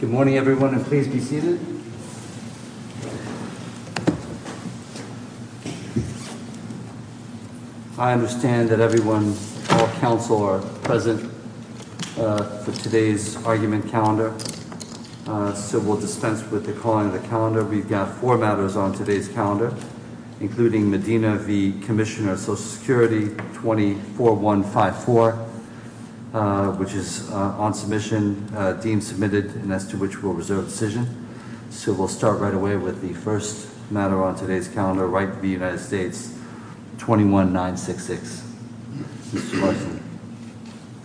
Good morning, everyone, and please be seated. I understand that everyone, all counsel, are present for today's argument calendar. So we'll dispense with the calling of the calendar. We've got four matters on today's calendar, including Medina v. Commissioner of Social Security 24154, which is on submission, deemed submitted, and as to which we'll reserve decision. So we'll start right away with the first matter on today's calendar, Wright v. United States, 21966, Mr. Larson.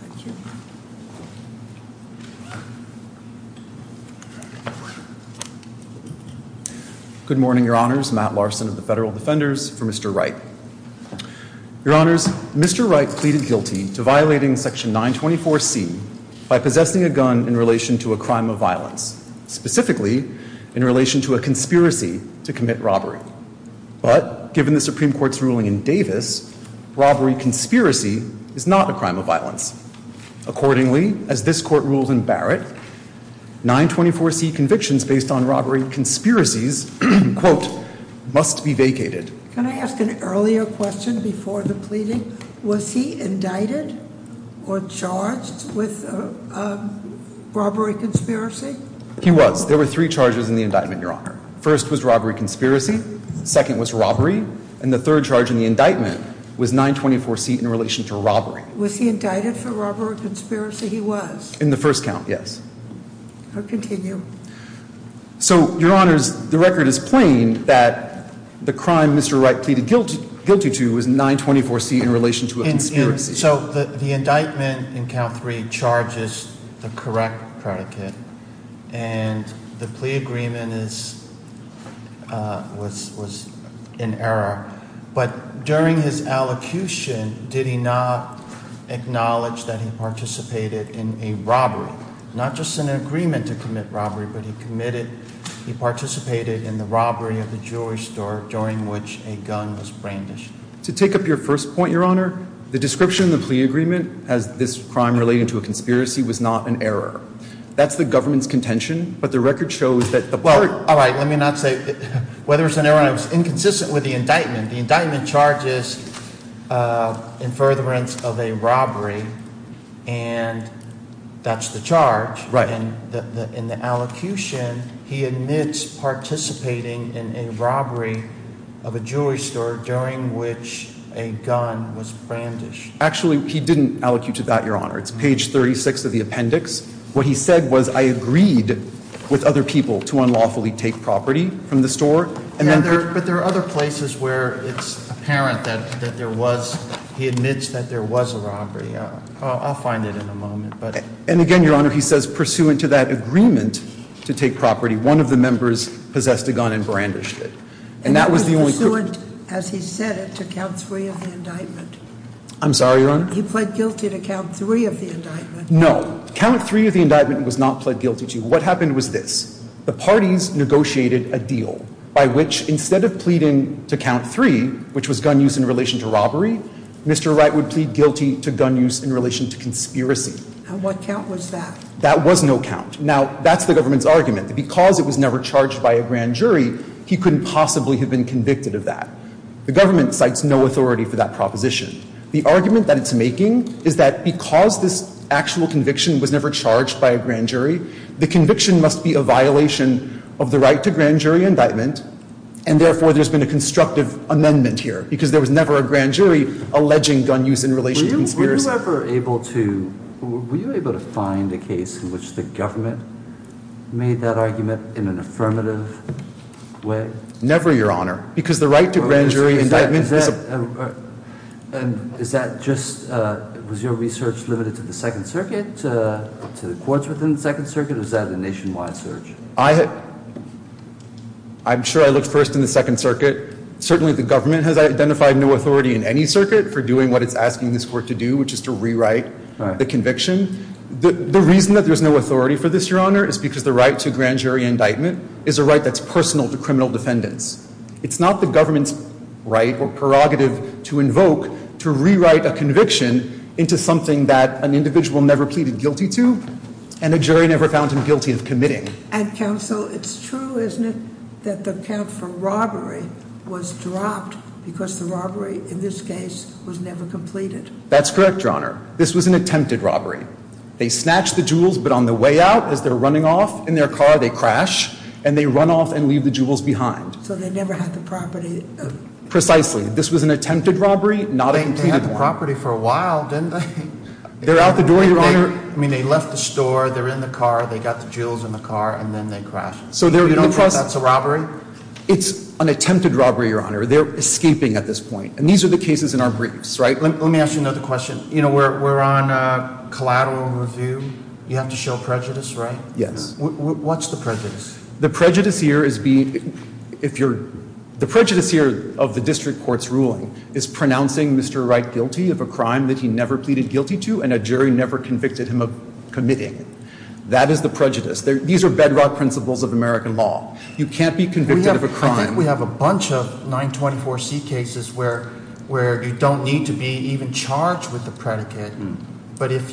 Thank you. Good morning, your honors. Matt Larson of the Federal Defenders for Mr. Wright. Your honors, Mr. Wright pleaded guilty to violating section 924C by possessing a gun in relation to a crime of violence, specifically in relation to a conspiracy to commit robbery. But given the Supreme Court's ruling in Davis, robbery conspiracy is not a crime of violence. Accordingly, as this court ruled in Barrett, 924C convictions based on robbery conspiracies, quote, must be vacated. Can I ask an earlier question before the pleading? Was he indicted or charged with a robbery conspiracy? He was. There were three charges in the indictment, your honor. First was robbery conspiracy. Second was robbery. And the third charge in the indictment was 924C in relation to robbery. Was he indicted for robbery conspiracy? He was. In the first count, yes. I'll continue. So, your honors, the record is plain that the crime Mr. Wright pleaded guilty to was 924C in relation to a conspiracy. So the indictment in count three charges the correct predicate. And the plea agreement was in error. But during his allocution, did he not acknowledge that he participated in a robbery? Not just in an agreement to commit robbery, but he committed, he participated in the robbery of the jewelry store during which a gun was brandished. To take up your first point, your honor, the description of the plea agreement as this crime related to a conspiracy was not an error. That's the government's contention, but the record shows that the court- Well, all right, let me not say whether it's an error. I was inconsistent with the indictment. The indictment charges in furtherance of a robbery. And that's the charge. Right. In the allocution, he admits participating in a robbery of a jewelry store during which a gun was brandished. Actually, he didn't allocate to that, your honor. It's page 36 of the appendix. What he said was, I agreed with other people to unlawfully take property from the store. Yeah, but there are other places where it's apparent that there was, he admits that there was a robbery. I'll find it in a moment, but- And again, your honor, he says pursuant to that agreement to take property, one of the members possessed a gun and brandished it. And that was the only- And he was pursuant, as he said it, to count three of the indictment. I'm sorry, your honor? He pled guilty to count three of the indictment. No, count three of the indictment was not pled guilty to. What happened was this. The parties negotiated a deal by which, instead of pleading to count three, which was gun use in relation to robbery, Mr. Wright would plead guilty to gun use in relation to conspiracy. And what count was that? That was no count. Now, that's the government's argument, that because it was never charged by a grand jury, he couldn't possibly have been convicted of that. The government cites no authority for that proposition. The argument that it's making is that because this actual conviction was never charged by a grand jury, the conviction must be a violation of the right to grand jury indictment. And therefore, there's been a constructive amendment here, because there was never a grand jury alleging gun use in relation to conspiracy. Were you ever able to find a case in which the government made that argument in an affirmative way? Never, your honor, because the right to grand jury indictment is a- And is that just, was your research limited to the Second Circuit, to the courts within the Second Circuit, or is that a nationwide search? I'm sure I looked first in the Second Circuit. Certainly, the government has identified no authority in any circuit for doing what it's asking this court to do, which is to rewrite the conviction. The reason that there's no authority for this, your honor, is because the right to grand jury indictment is a right that's personal to criminal defendants. It's not the government's right or prerogative to invoke to rewrite a conviction into something that an individual never pleaded guilty to, and a jury never found him guilty of committing. And counsel, it's true, isn't it, that the count for robbery was dropped because the robbery, in this case, was never completed? That's correct, your honor. This was an attempted robbery. They snatched the jewels, but on the way out, as they're running off in their car, they crash. And they run off and leave the jewels behind. So they never had the property. Precisely. This was an attempted robbery, not a completed one. They had the property for a while, didn't they? They're out the door, your honor. I mean, they left the store, they're in the car, they got the jewels in the car, and then they crash. So you don't think that's a robbery? It's an attempted robbery, your honor. They're escaping at this point. And these are the cases in our briefs, right? Let me ask you another question. You know, we're on collateral review. You have to show prejudice, right? Yes. What's the prejudice? The prejudice here is being, if you're, the prejudice here of the district court's ruling is pronouncing Mr. Wright guilty of a crime that he never pleaded guilty to, and a jury never convicted him of committing. That is the prejudice. These are bedrock principles of American law. You can't be convicted of a crime- We have a bunch of 924C cases where you don't need to be even charged with the predicate. But if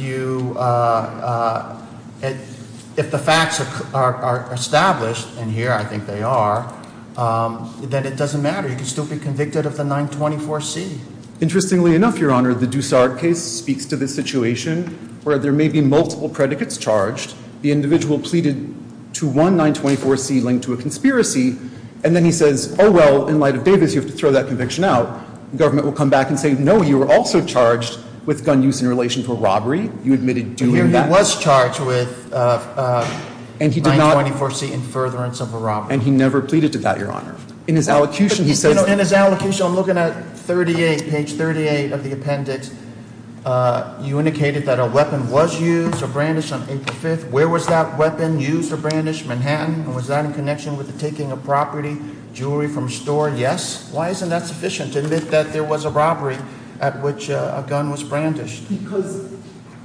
the facts are established, and here I think they are, that it doesn't matter, you can still be convicted of the 924C. Interestingly enough, your honor, the Dussard case speaks to this situation where there may be multiple predicates charged. The individual pleaded to one 924C linked to a conspiracy, and then he says, well, in light of Davis, you have to throw that conviction out. Government will come back and say, no, you were also charged with gun use in relation to a robbery. You admitted doing that. He was charged with 924C in furtherance of a robbery. And he never pleaded to that, your honor. In his allocution, he says- In his allocution, I'm looking at page 38 of the appendix, you indicated that a weapon was used or brandished on April 5th. Where was that weapon used or brandished? Manhattan? And was that in connection with the taking of property, jewelry from a store? Yes. Why isn't that sufficient to admit that there was a robbery at which a gun was brandished? Because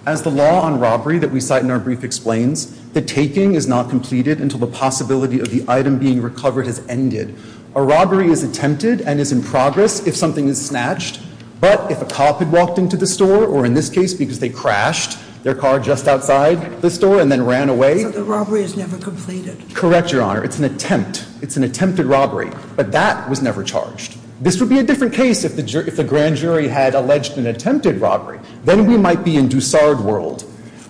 as the law on robbery that we cite in our brief explains, the taking is not completed until the possibility of the item being recovered has ended. A robbery is attempted and is in progress if something is snatched. But if a cop had walked into the store, or in this case, because they crashed their car just outside the store and then ran away- So the robbery is never completed. Correct, your honor. It's an attempt. It's an attempted robbery. But that was never charged. This would be a different case if the grand jury had alleged an attempted robbery. Then we might be in Dusard world,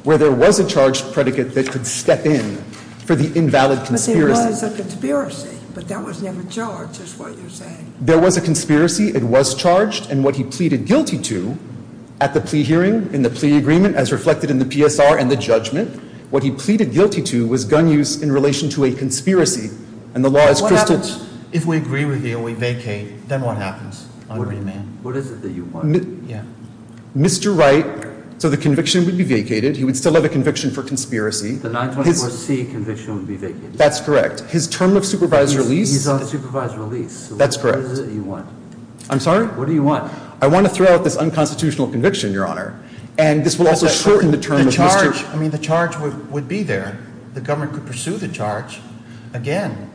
where there was a charged predicate that could step in for the invalid conspiracy. But there was a conspiracy, but that was never charged is what you're saying. There was a conspiracy, it was charged, and what he pleaded guilty to at the plea hearing, in the plea agreement as reflected in the PSR and the judgment, what he pleaded guilty to was gun use in relation to a conspiracy. And the law is- What happens if we agree with you and we vacate, then what happens? What do you mean? What is it that you want? Yeah. Mr. Wright, so the conviction would be vacated, he would still have a conviction for conspiracy. The 924C conviction would be vacated. That's correct. His term of supervised release- He's on supervised release. That's correct. What is it that you want? I'm sorry? What do you want? I want to throw out this unconstitutional conviction, your honor. And this will also shorten the term of Mr- I mean, the charge would be there. The government could pursue the charge again.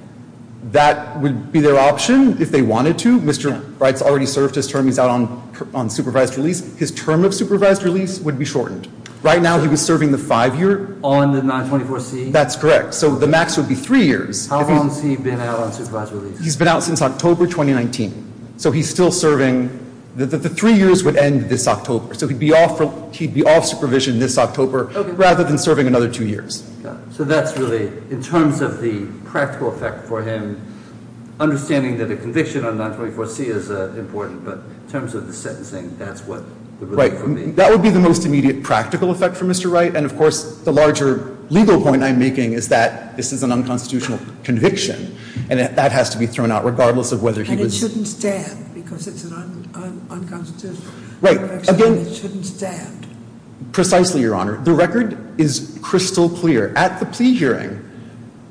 That would be their option if they wanted to. Mr. Wright's already served his term, he's out on supervised release. His term of supervised release would be shortened. Right now he was serving the five year- On the 924C? That's correct. So the max would be three years. How long has he been out on supervised release? He's been out since October 2019. So he's still serving, the three years would end this October. So he'd be off supervision this October rather than serving another two years. So that's really, in terms of the practical effect for him, understanding that a conviction on 924C is important, but in terms of the sentencing, that's what- Right, that would be the most immediate practical effect for Mr. Wright. And of course, the larger legal point I'm making is that this is an unconstitutional conviction. And that has to be thrown out regardless of whether he was- And it shouldn't stand, because it's an unconstitutional conviction, it shouldn't stand. Precisely, your honor. The record is crystal clear. At the plea hearing,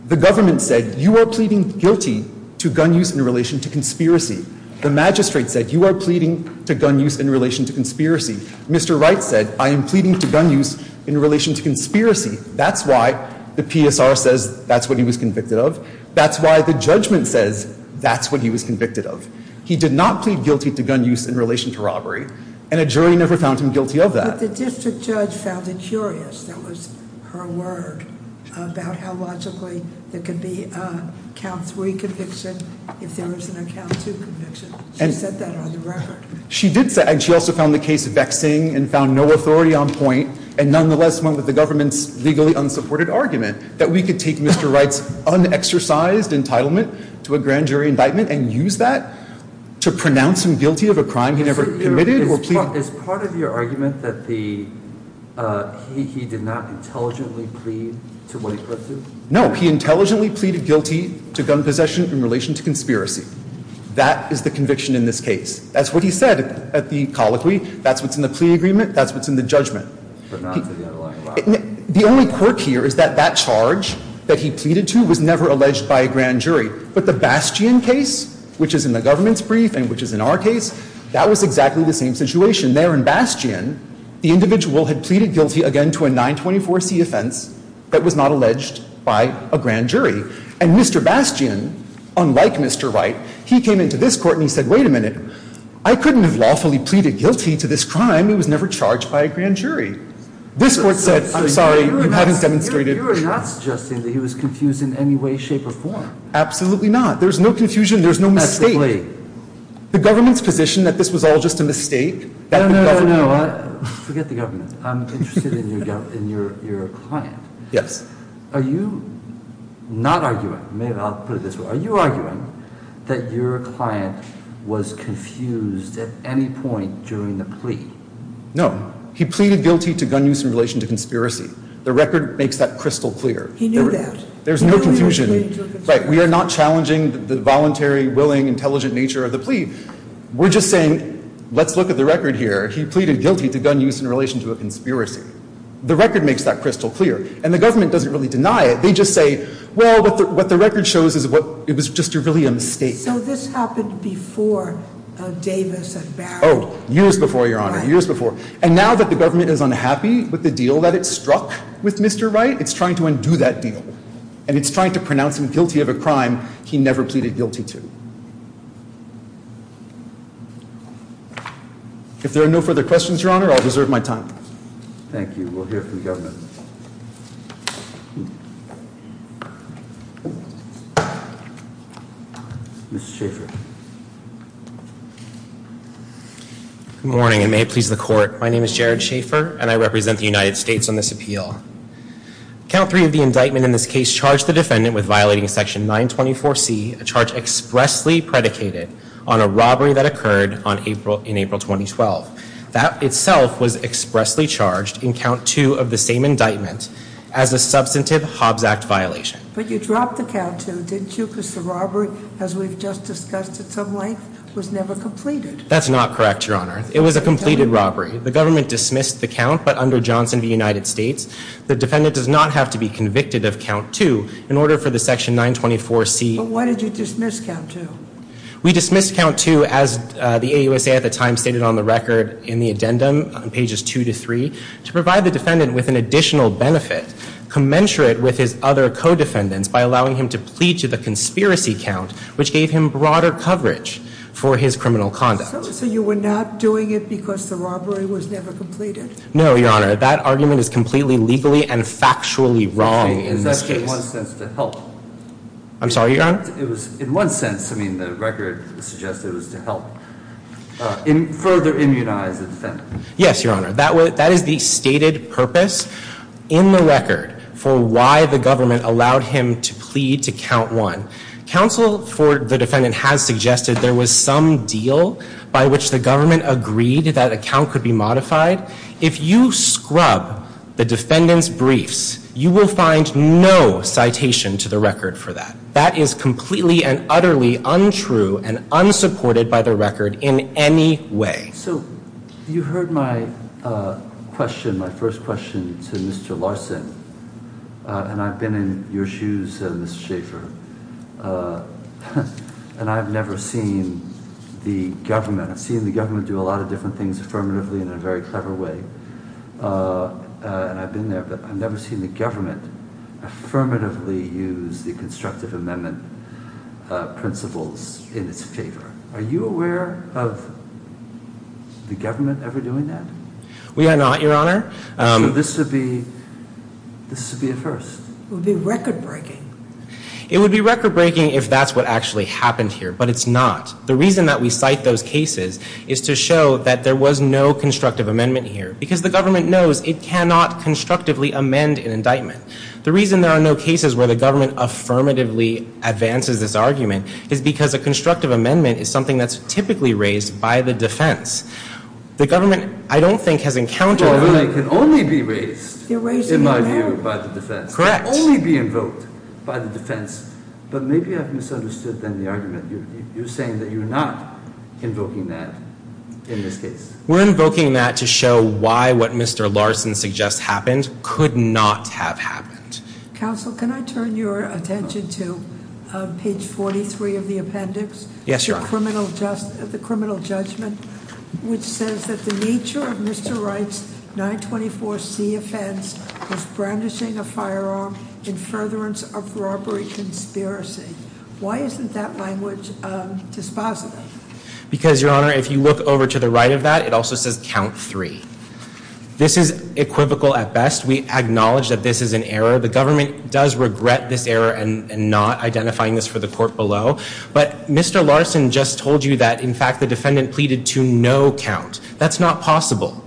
the government said, you are pleading guilty to gun use in relation to conspiracy. The magistrate said, you are pleading to gun use in relation to conspiracy. Mr. Wright said, I am pleading to gun use in relation to conspiracy. That's why the PSR says that's what he was convicted of. That's why the judgment says that's what he was convicted of. He did not plead guilty to gun use in relation to robbery. And a jury never found him guilty of that. But the district judge found it curious, that was her word, about how logically there could be a count three conviction if there was a count two conviction. She said that on the record. She did say, and she also found the case vexing and found no authority on point. And nonetheless, went with the government's legally unsupported argument that we could take Mr. Wright's unexercised entitlement to a grand jury indictment and use that to pronounce him guilty of a crime he never committed or pleaded- Is part of your argument that he did not intelligently plead to what he pled to? No, he intelligently pleaded guilty to gun possession in relation to conspiracy. That is the conviction in this case. That's what he said at the colloquy. That's what's in the plea agreement. That's what's in the judgment. But not to the underlying- The only quirk here is that that charge that he pleaded to was never alleged by a grand jury. But the Bastian case, which is in the government's brief and which is in our case, that was exactly the same situation there in Bastian. The individual had pleaded guilty again to a 924C offense that was not alleged by a grand jury. And Mr. Bastian, unlike Mr. Wright, he came into this court and he said, wait a minute. I couldn't have lawfully pleaded guilty to this crime. It was never charged by a grand jury. This court said, I'm sorry, you haven't demonstrated- You are not suggesting that he was confused in any way, shape, or form. Absolutely not. There's no confusion. There's no mistake. Exactly. The government's position that this was all just a mistake- No, no, no, no. Forget the government. I'm interested in your client. Yes. Are you not arguing, maybe I'll put it this way, are you arguing that your client was confused at any point during the plea? No. He pleaded guilty to gun use in relation to conspiracy. The record makes that crystal clear. He knew that. There's no confusion. We are not challenging the voluntary, willing, intelligent nature of the plea. We're just saying, let's look at the record here. He pleaded guilty to gun use in relation to a conspiracy. The record makes that crystal clear. And the government doesn't really deny it. They just say, well, what the record shows is it was just really a mistake. So this happened before Davis and Barrow. Years before, Your Honor, years before. And now that the government is unhappy with the deal that it struck with Mr. Wright, it's trying to undo that deal. And it's trying to pronounce him guilty of a crime he never pleaded guilty to. If there are no further questions, Your Honor, I'll reserve my time. Thank you. We'll hear from the government. Mr. Schaffer. Good morning, and may it please the court. My name is Jared Schaffer, and I represent the United States on this appeal. Count three of the indictment in this case charged the defendant with violating section 924C, a charge expressly predicated on a robbery that occurred in April 2012. That itself was expressly charged in count two of the same indictment as a substantive Hobbs Act violation. But you dropped the count too, didn't you? Because the robbery, as we've just discussed at some length, was never completed. That's not correct, Your Honor. It was a completed robbery. The government dismissed the count, but under Johnson v. United States, the defendant does not have to be convicted of count two in order for the section 924C- But why did you dismiss count two? We dismissed count two, as the AUSA at the time stated on the record in the addendum on pages two to three, to provide the defendant with an additional benefit commensurate with his other co-defendants by allowing him to plead to the conspiracy count, which gave him broader coverage for his criminal conduct. So you were not doing it because the robbery was never completed? No, Your Honor. That argument is completely legally and factually wrong in this case. Okay, is that in one sense to help? I'm sorry, Your Honor? It was in one sense. I mean, the record suggested it was to help further immunize the defendant. Yes, Your Honor. That is the stated purpose in the record for why the government allowed him to plead to count one. Counsel for the defendant has suggested there was some deal by which the government agreed that a count could be modified. If you scrub the defendant's briefs, you will find no citation to the record for that. That is completely and utterly untrue and unsupported by the record in any way. So you heard my question, my first question to Mr. Larson, and I've been in your shoes, Mr. Schaffer, and I've never seen the government, I've seen the government do a lot of different things affirmatively in a very clever way, and I've been there, but I've never seen the government affirmatively use the constructive amendment principles in its favor. Are you aware of the government ever doing that? We are not, Your Honor. This would be a first. It would be record-breaking. It would be record-breaking if that's what actually happened here, but it's not. The reason that we cite those cases is to show that there was no constructive amendment here, because the government knows it cannot constructively amend an indictment. The reason there are no cases where the government affirmatively advances this argument is because a constructive amendment is something that's typically raised by the defense. The government, I don't think, has encountered- Your Honor, it can only be raised, in my view, by the defense. Correct. It can only be invoked by the defense. But maybe I've misunderstood, then, the argument. You're saying that you're not invoking that in this case. We're invoking that to show why what Mr. Larson suggests happened could not have happened. Counsel, can I turn your attention to page 43 of the appendix? Yes, Your Honor. The criminal judgment, which says that the nature of Mr. Wright's 924C offense was brandishing a firearm in furtherance of robbery conspiracy. Why isn't that language dispositive? Because, Your Honor, if you look over to the right of that, it also says count three. This is equivocal at best. We acknowledge that this is an error. The government does regret this error and not identifying this for the court below. But Mr. Larson just told you that, in fact, the defendant pleaded to no count. That's not possible.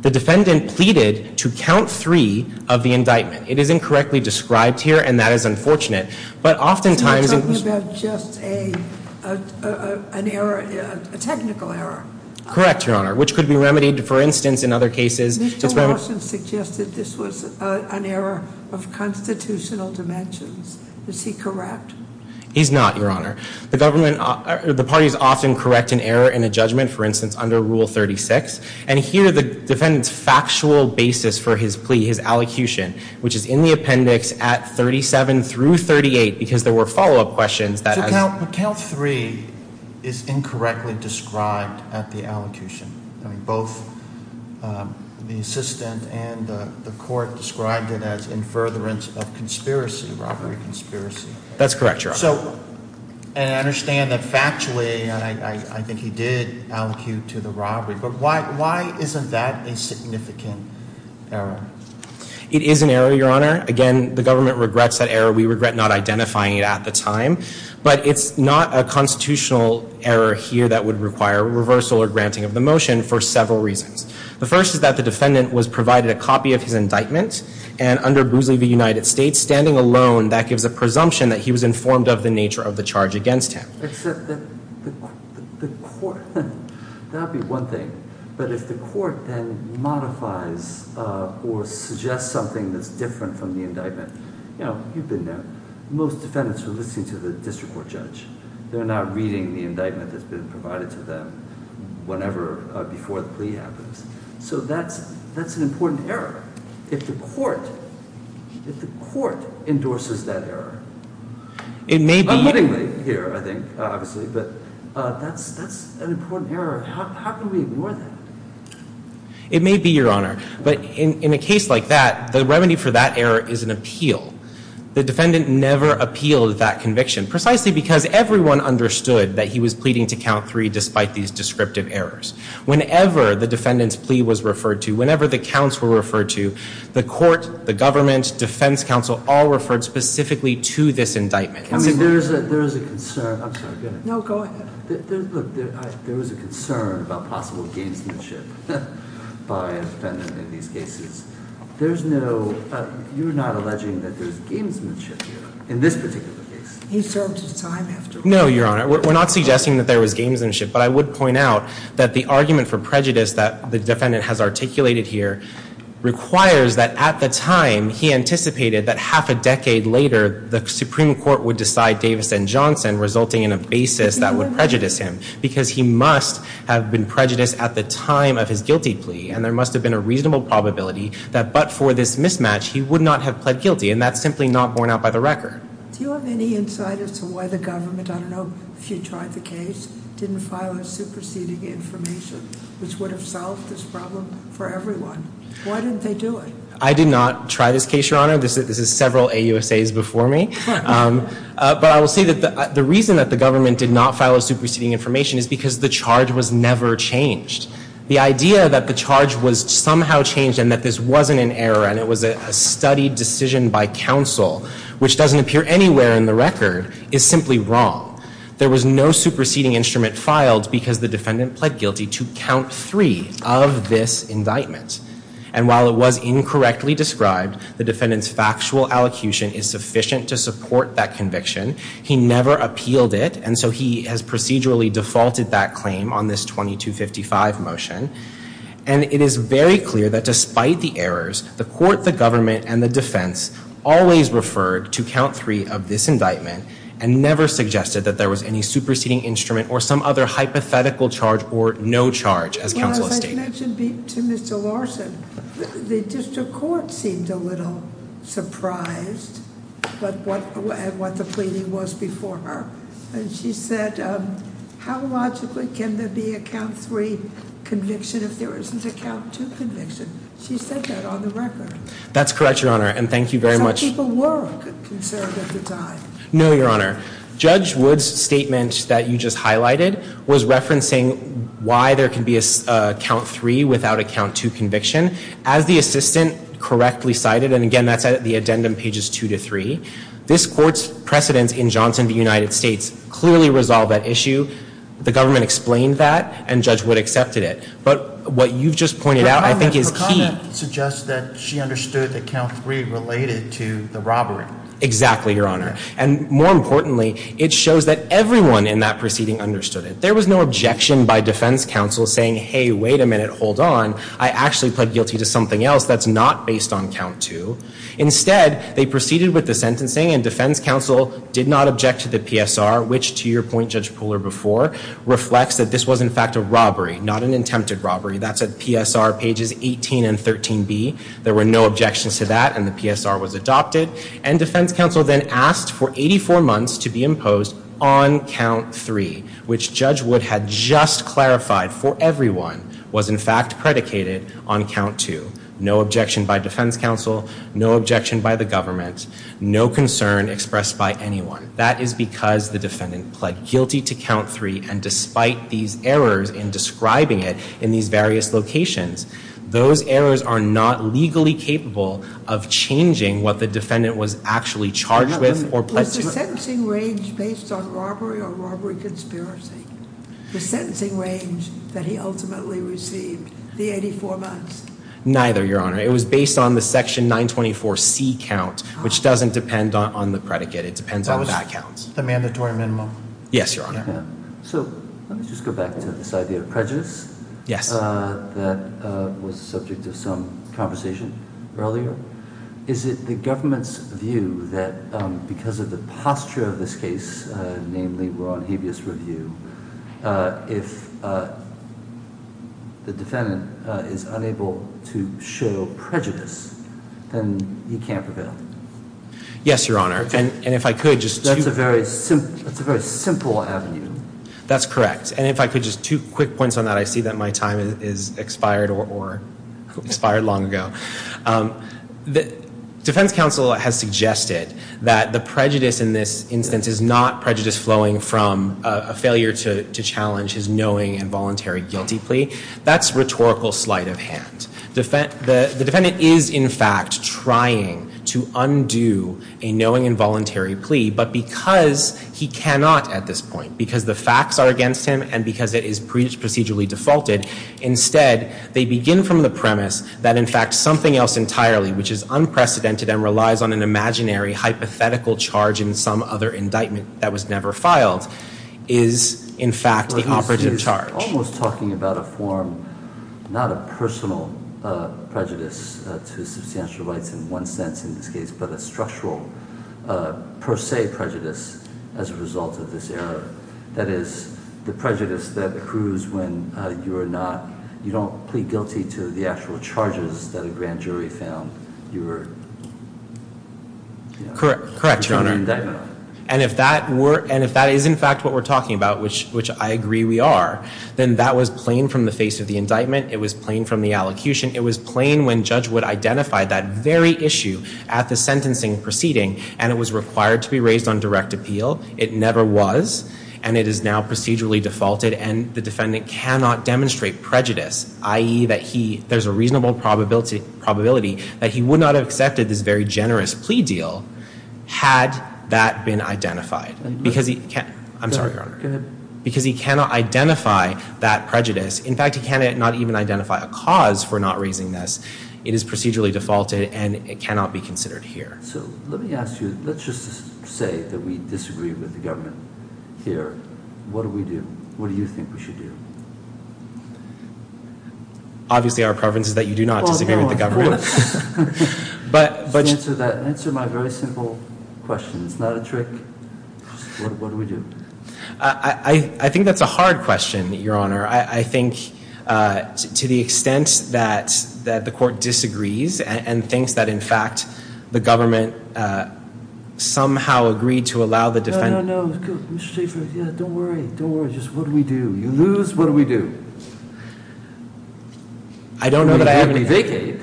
The defendant pleaded to count three of the indictment. It is incorrectly described here, and that is unfortunate. But oftentimes- I'm talking about just an error, a technical error. Correct, Your Honor, which could be remedied, for instance, in other cases. Mr. Larson suggested this was an error of constitutional dimensions. Is he correct? He's not, Your Honor. The government, the parties often correct an error in a judgment, for instance, under Rule 36. And here, the defendant's factual basis for his plea, his allocution, which is in the appendix at 37 through 38, because there were follow-up questions that- But count three is incorrectly described at the allocution. Both the assistant and the court described it as in furtherance of conspiracy, robbery conspiracy. That's correct, Your Honor. And I understand that factually, I think he did allocute to the robbery. But why isn't that a significant error? It is an error, Your Honor. Again, the government regrets that error. We regret not identifying it at the time. But it's not a constitutional error here that would require reversal or granting of the motion for several reasons. The first is that the defendant was provided a copy of his indictment. And under Boozley v. United States, standing alone, that gives a presumption that he was informed of the nature of the charge against him. Except that the court, that would be one thing. But if the court then modifies or suggests something that's different from the indictment, you know, you've been there. Most defendants are listening to the district court judge. They're not reading the indictment that's been provided to them whenever, before the plea happens. So that's an important error. If the court endorses that error, unwittingly here, I think, obviously, but that's an important error. How can we ignore that? It may be, Your Honor. But in a case like that, the remedy for that error is an appeal. The defendant never appealed that conviction. Precisely because everyone understood that he was pleading to count three despite these descriptive errors. Whenever the defendant's plea was referred to, whenever the counts were referred to, the court, the government, defense counsel all referred specifically to this indictment. I mean, there is a concern. I'm sorry. No, go ahead. Look, there was a concern about possible gamesmanship by a defendant in these cases. There's no, you're not alleging that there's gamesmanship here in this particular case. He served his time, after all. No, Your Honor. We're not suggesting that there was gamesmanship. But I would point out that the argument for prejudice that the defendant has articulated here requires that at the time, he anticipated that half a decade later, the Supreme Court would decide Davis and Johnson resulting in a basis that would prejudice him. Because he must have been prejudiced at the time of his guilty plea. And there must have been a reasonable probability that but for this mismatch, he would not have pled guilty. And that's simply not borne out by the record. Do you have any insight as to why the government, I don't know if you tried the case, didn't file a superseding information which would have solved this problem for everyone? Why didn't they do it? I did not try this case, Your Honor. This is several AUSAs before me. But I will say that the reason that the government did not file a superseding information is because the charge was never changed. The idea that the charge was somehow changed and that this wasn't an error and it was a studied decision by counsel, which doesn't appear anywhere in the record, is simply wrong. There was no superseding instrument filed because the defendant pled guilty to count three of this indictment. And while it was incorrectly described, the defendant's factual allocution is sufficient to support that conviction. He never appealed it. And so he has procedurally defaulted that claim on this 2255 motion. And it is very clear that despite the errors, the court, the government, and the defense always referred to count three of this indictment and never suggested that there was any superseding instrument or some other hypothetical charge or no charge as counsel has stated. You mentioned to Mr. Larson, the district court seemed a little surprised at what the pleading was before her. And she said, how logically can there be a count three conviction if there isn't a count two conviction? She said that on the record. That's correct, Your Honor, and thank you very much. Some people were concerned at the time. No, Your Honor. Judge Wood's statement that you just highlighted was referencing why there can be a count three without a count two conviction. As the assistant correctly cited, and again, that's at the addendum pages two to three, this court's precedence in Johnson v. United States clearly resolved that issue. The government explained that, and Judge Wood accepted it. But what you've just pointed out, I think, is key. Her comment suggests that she understood that count three related to the robbery. Exactly, Your Honor. And more importantly, it shows that everyone in that proceeding understood it. There was no objection by defense counsel saying, hey, wait a minute, hold on. I actually pled guilty to something else that's not based on count two. Instead, they proceeded with the sentencing and defense counsel did not object to the PSR, which to your point, Judge Pooler, before reflects that this was, in fact, a robbery, not an attempted robbery. That's at PSR pages 18 and 13B. There were no objections to that, and the PSR was adopted. And defense counsel then asked for 84 months to be imposed on count three, which Judge Wood had just clarified for everyone was, in fact, predicated on count two. No objection by defense counsel, no objection by the government, no concern expressed by anyone. That is because the defendant pled guilty to count three, and despite these errors in describing it in these various locations, those errors are not legally capable of changing what the defendant was actually charged with or pled guilty to. Was the sentencing range based on robbery or robbery conspiracy? The sentencing range that he ultimately received, the 84 months? Neither, Your Honor. It was based on the section 924C count, which doesn't depend on the predicate. It depends on the count. The mandatory minimum. Yes, Your Honor. So, let's just go back to this idea of prejudice. Yes. That was the subject of some conversation earlier. Is it the government's view that because of the posture of this case, namely, we're on habeas review, if the defendant is unable to show prejudice, then he can't prevail? Yes, Your Honor. And if I could, just two. That's a very simple avenue. That's correct. And if I could, just two quick points on that. I see that my time is expired or expired long ago. The defense counsel has suggested that the prejudice in this instance is not prejudice flowing from a failure to challenge his knowing and voluntary guilty plea. That's rhetorical sleight of hand. The defendant is, in fact, trying to undo a knowing and voluntary plea, but because he cannot at this point, because the facts are against him and because it is procedurally defaulted. Instead, they begin from the premise that, in fact, something else entirely, which is unprecedented and relies on an imaginary hypothetical charge in some other indictment that was never filed, is, in fact, the operative charge. Almost talking about a form, not a personal prejudice to substantial rights in one sense in this case, but a structural per se prejudice as a result of this error. That is, the prejudice that accrues when you are not, you don't plead guilty to the actual charges that a grand jury found you were. Correct, Your Honor. And if that were, and if that is, in fact, what we're talking about, which I agree we are, then that was plain from the face of the indictment. It was plain from the allocution. It was plain when Judge Wood identified that very issue at the sentencing proceeding, and it was required to be raised on direct appeal. It never was, and it is now procedurally defaulted, and the defendant cannot demonstrate prejudice, i.e. that he, there's a reasonable probability that he would not have accepted this very generous plea deal had that been identified. Because he can't, I'm sorry, Your Honor, because he cannot identify that prejudice. In fact, he cannot even identify a cause for not raising this. It is procedurally defaulted, and it cannot be considered here. So, let me ask you, let's just say that we disagree with the government here. What do we do? What do you think we should do? Obviously, our preference is that you do not disagree with the government. But. Answer that, answer my very simple question. It's not a trick. What do we do? I think that's a hard question, Your Honor. I think to the extent that the court disagrees and thinks that, in fact, the government somehow agreed to allow the defendant. No, no, no, Mr. Chief, don't worry, don't worry. Just what do we do? You lose, what do we do? I don't know that I have any. We vacate.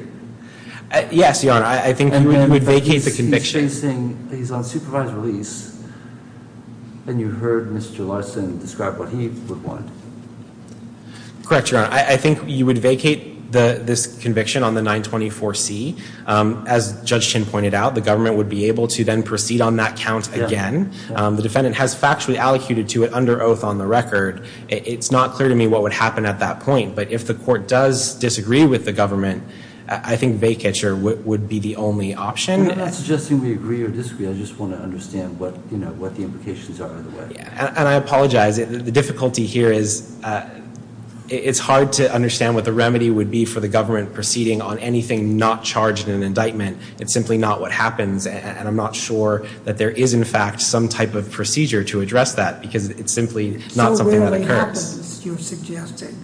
Yes, Your Honor, I think we would vacate the conviction. He's facing, he's on supervised release, and you heard Mr. Larson describe what he would want. Correct, Your Honor. I think you would vacate this conviction on the 924C. As Judge Chin pointed out, the government would be able to then proceed on that count again. The defendant has factually allocated to it under oath on the record. It's not clear to me what would happen at that point. But if the court does disagree with the government, I think vacature would be the only option. I'm not suggesting we agree or disagree. I just want to understand what the implications are in a way. And I apologize. The difficulty here is it's hard to understand what the remedy would be for the government proceeding on anything not charged in an indictment. It's simply not what happens. And I'm not sure that there is, in fact, some type of procedure to address that. Because it's simply not something that occurs. So rarely happens, you're suggesting.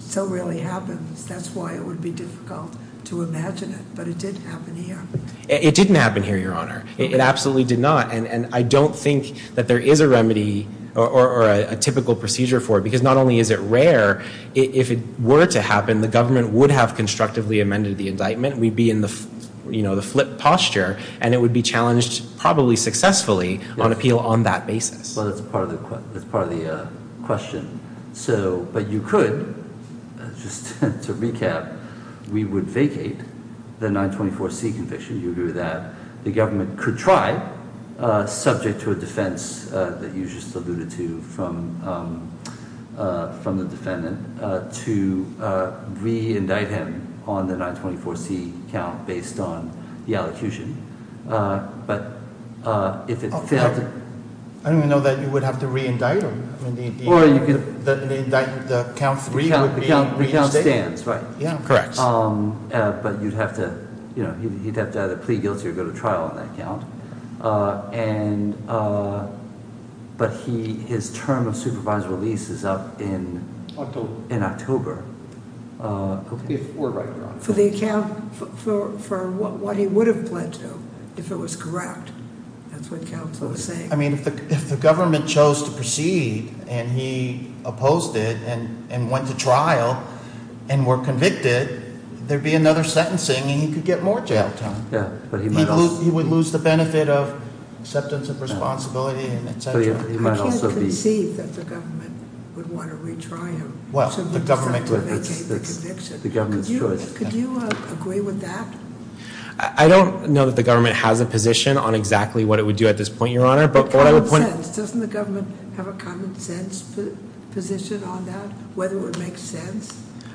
So rarely happens. That's why it would be difficult to imagine it. But it did happen here. It didn't happen here, Your Honor. It absolutely did not. And I don't think that there is a remedy or a typical procedure for it. Because not only is it rare. If it were to happen, the government would have constructively amended the indictment. We'd be in the flip posture. And it would be challenged probably successfully on appeal on that basis. Well, that's part of the question. So, but you could, just to recap, we would vacate the 924C conviction. You agree with that. The government could try, subject to a defense that you just alluded to, from the defendant, to re-indict him on the 924C count based on the elocution. But if it failed to- I didn't even know that you would have to re-indict him. I mean, the count three would be reinstated. The count stands, right? Yeah, correct. But you'd have to either plead guilty or go to trial on that count. And, but his term of supervisory release is up in October, if we're right. For the account, for what he would have pledged, though, if it was correct. That's what counsel is saying. I mean, if the government chose to proceed and he opposed it and went to trial and were convicted, there'd be another sentencing and he could get more jail time. Yeah, but he might also- Benefit of acceptance of responsibility and et cetera. He might also be- I can't conceive that the government would want to retry him. Well, the government could. To make a conviction. The government's choice. Could you agree with that? I don't know that the government has a position on exactly what it would do at this point, your honor. But what I would point- Doesn't the government have a common sense position on that? Whether it would make sense?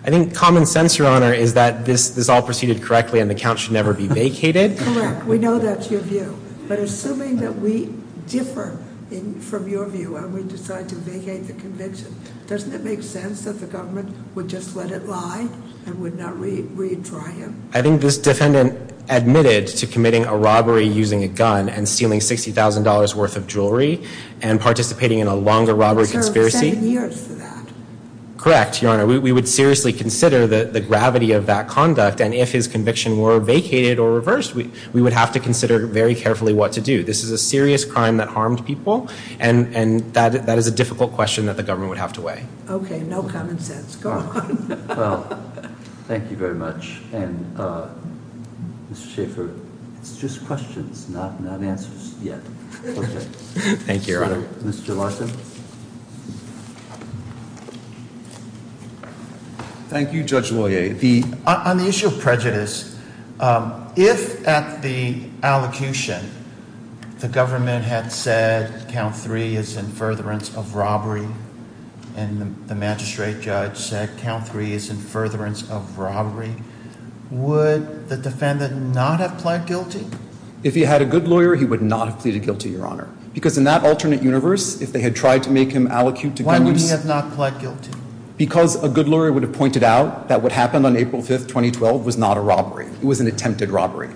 I think common sense, your honor, is that this all proceeded correctly and the count should never be vacated. Correct, we know that's your view. But assuming that we differ from your view and we decide to vacate the conviction, doesn't it make sense that the government would just let it lie and would not retry him? I think this defendant admitted to committing a robbery using a gun and stealing $60,000 worth of jewelry and participating in a longer robbery conspiracy. Served seven years for that. Correct, your honor. We would seriously consider the gravity of that conduct. And if his conviction were vacated or reversed, we would have to consider very carefully what to do. This is a serious crime that harmed people. And that is a difficult question that the government would have to weigh. Okay, no common sense. Go on. Well, thank you very much. And Mr. Schaffer, it's just questions, not answers yet. Okay. Thank you, your honor. Mr. Larson. Thank you, Judge Lawyer. On the issue of prejudice, if at the allocution, the government had said count three is in furtherance of robbery, and the magistrate judge said count three is in furtherance of robbery, would the defendant not have pled guilty? If he had a good lawyer, he would not have pleaded guilty, your honor. Because in that alternate universe, if they had tried to make him allocute to- Why would he have not pled guilty? Because a good lawyer would have pointed out that what happened on April 5th, 2012 was not a robbery. It was an attempted robbery.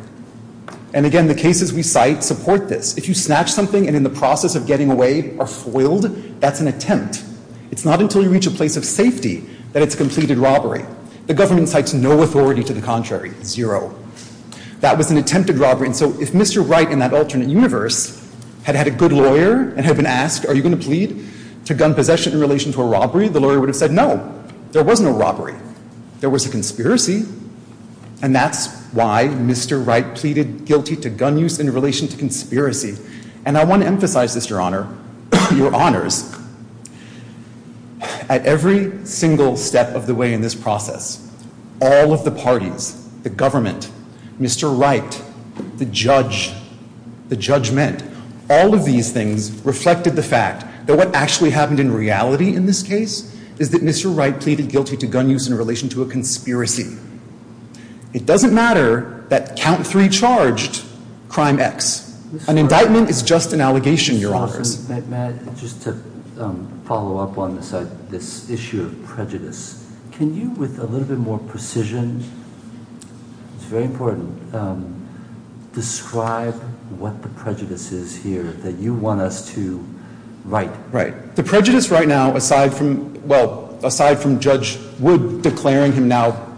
And again, the cases we cite support this. If you snatch something and in the process of getting away are foiled, that's an attempt. It's not until you reach a place of safety that it's a completed robbery. The government cites no authority to the contrary, zero. That was an attempted robbery. And so if Mr. Wright in that alternate universe had had a good lawyer and there was no robbery, the lawyer would have said no, there was no robbery, there was a conspiracy. And that's why Mr. Wright pleaded guilty to gun use in relation to conspiracy. And I want to emphasize this, your honor, your honors. At every single step of the way in this process, all of the parties, the government, Mr. Wright, the judge, the judgment. All of these things reflected the fact that what actually happened in reality in this case is that Mr. Wright pleaded guilty to gun use in relation to a conspiracy. It doesn't matter that count three charged, crime X. An indictment is just an allegation, your honors. Matt, just to follow up on this issue of prejudice. Can you, with a little bit more precision, it's very important, describe what the prejudice is here that you want us to write. Right. The prejudice right now, aside from, well, aside from Judge Wood declaring him now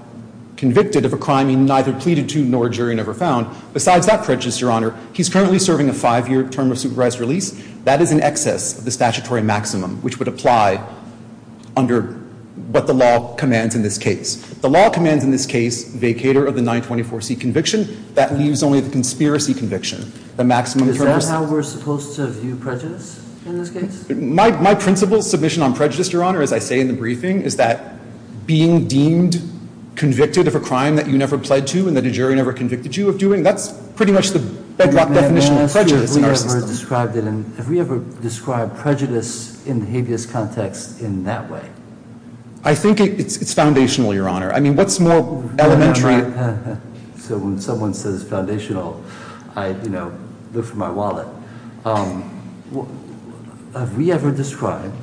convicted of a crime he neither pleaded to nor a jury never found. Besides that prejudice, your honor, he's currently serving a five year term of supervised release. That is in excess of the statutory maximum, which would apply under what the law commands in this case. The law commands in this case, vacator of the 924C conviction, that leaves only the conspiracy conviction. The maximum- Is that how we're supposed to view prejudice in this case? My principle submission on prejudice, your honor, as I say in the briefing, is that being deemed convicted of a crime that you never pled to and that a jury never convicted you of doing, that's pretty much the bedrock definition of prejudice in our system. Have we ever described prejudice in the habeas context in that way? I think it's foundational, your honor. I mean, what's more elementary- So when someone says foundational, I look for my wallet. Have we ever described,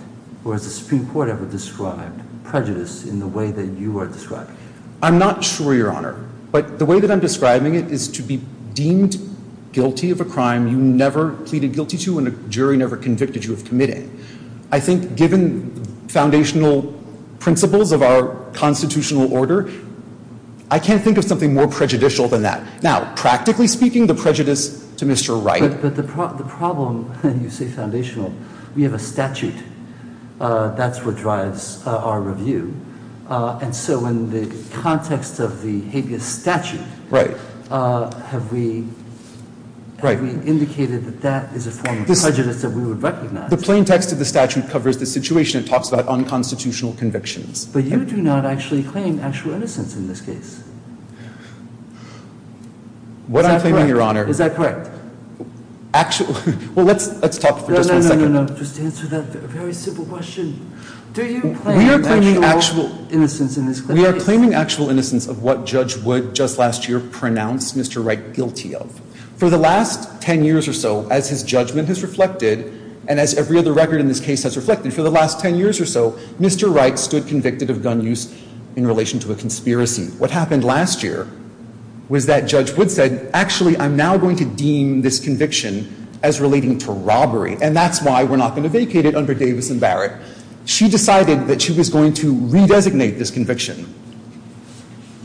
or has the Supreme Court ever described prejudice in the way that you are describing? I'm not sure, your honor, but the way that I'm describing it is to be deemed guilty of a crime you never pleaded guilty to and a jury never convicted you of committing. I think, given foundational principles of our constitutional order, I can't think of something more prejudicial than that. Now, practically speaking, the prejudice to Mr. Wright- But the problem, when you say foundational, we have a statute that's what drives our review. And so, in the context of the habeas statute, have we indicated that that is a form of prejudice that we would recognize? The plain text of the statute covers the situation it talks about unconstitutional convictions. But you do not actually claim actual innocence in this case. What I'm claiming, your honor- Is that correct? Actually, well, let's talk for just one second- No, no, no, no, no, just answer that very simple question. Do you claim actual innocence in this case? We are claiming actual innocence of what Judge Wood just last year pronounced Mr. Wright guilty of. For the last 10 years or so, as his judgment has reflected, and as every other record in this case has reflected, for the last 10 years or so, Mr. Wright stood convicted of gun use in relation to a conspiracy. What happened last year was that Judge Wood said, actually, I'm now going to deem this conviction as relating to robbery, and that's why we're not going to vacate it under Davis and Barrett. She decided that she was going to redesignate this conviction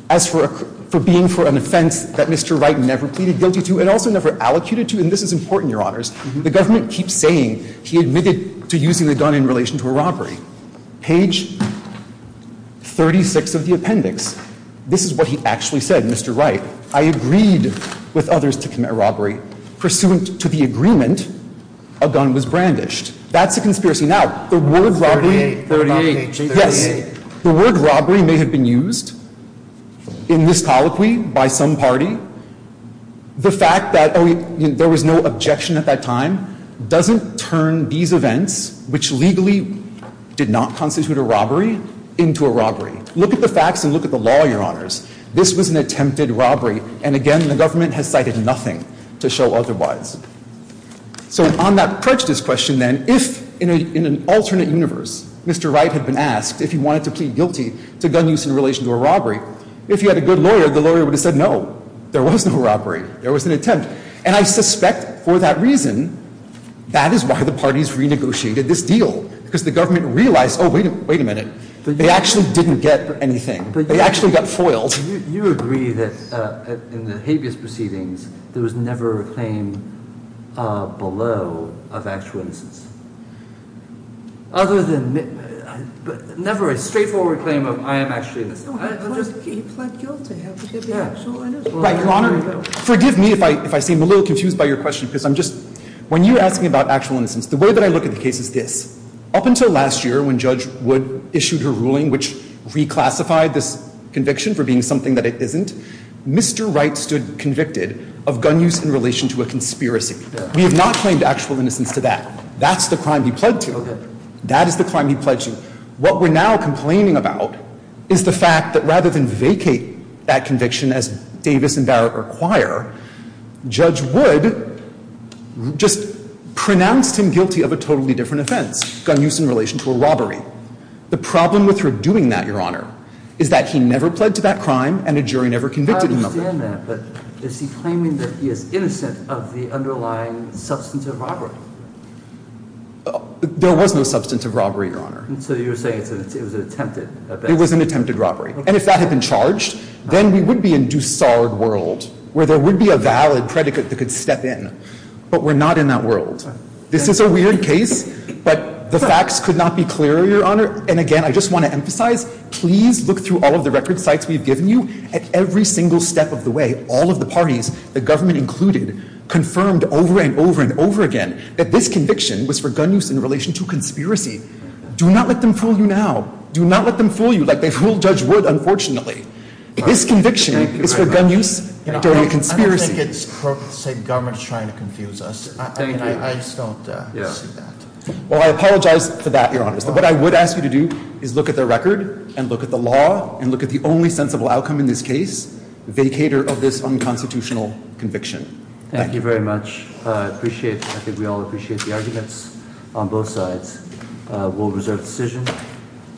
as for being for an offense that Mr. Wright never pleaded guilty to and also never allocated to. And this is important, your honors. The government keeps saying he admitted to using the gun in relation to a robbery. Page 36 of the appendix, this is what he actually said, Mr. Wright. I agreed with others to commit robbery. Pursuant to the agreement, a gun was brandished. That's a conspiracy. Now, the word robbery- 38, 38, 38. The word robbery may have been used in this colloquy by some party. The fact that there was no objection at that time doesn't turn these events, which legally did not constitute a robbery, into a robbery. Look at the facts and look at the law, your honors. This was an attempted robbery, and again, the government has cited nothing to show otherwise. So on that prejudice question then, if in an alternate universe, Mr. Wright had been asked if he wanted to plead guilty to gun use in relation to a robbery, if he had a good lawyer, the lawyer would have said no. There was no robbery. There was an attempt. And I suspect for that reason, that is why the parties renegotiated this deal. Because the government realized, oh, wait a minute. They actually didn't get anything. They actually got foiled. You agree that in the habeas proceedings, there was never a claim below of actual innocence. Other than never a straightforward claim of I am actually innocent. He pled guilty. He had to give the actual innocence. Your honor, forgive me if I seem a little confused by your question, because I'm just, when you're asking about actual innocence, the way that I look at the case is this. Up until last year, when Judge Wood issued her ruling, which reclassified this conviction for being something that it isn't, Mr. Wright stood convicted of gun use in relation to a conspiracy. We have not claimed actual innocence to that. That's the crime he pled to. Okay. That is the crime he pled to. What we're now complaining about is the fact that rather than vacate that conviction, as Davis and Barrett require, Judge Wood just pronounced him guilty of a totally different offense. Gun use in relation to a robbery. The problem with her doing that, your honor, is that he never pled to that crime and a jury never convicted him of it. I understand that. But is he claiming that he is innocent of the underlying substance of robbery? There was no substance of robbery, your honor. So you're saying it was an attempted? It was an attempted robbery. And if that had been charged, then we would be in Dussard world, where there would be a valid predicate that could step in. But we're not in that world. This is a weird case, but the facts could not be clearer, your honor. And again, I just want to emphasize, please look through all of the record sites we've given you. At every single step of the way, all of the parties, the government included, confirmed over and over and over again that this conviction was for gun use in relation to a conspiracy. Do not let them fool you now. Do not let them fool you like they fooled Judge Wood, unfortunately. This conviction is for gun use during a conspiracy. I don't think it's, say, government is trying to confuse us. I just don't see that. Well, I apologize for that, your honor. What I would ask you to do is look at the record and look at the law and look at the only sensible outcome in this case, vacator of this unconstitutional conviction. Thank you very much. I think we all appreciate the arguments on both sides. We'll reserve the decision.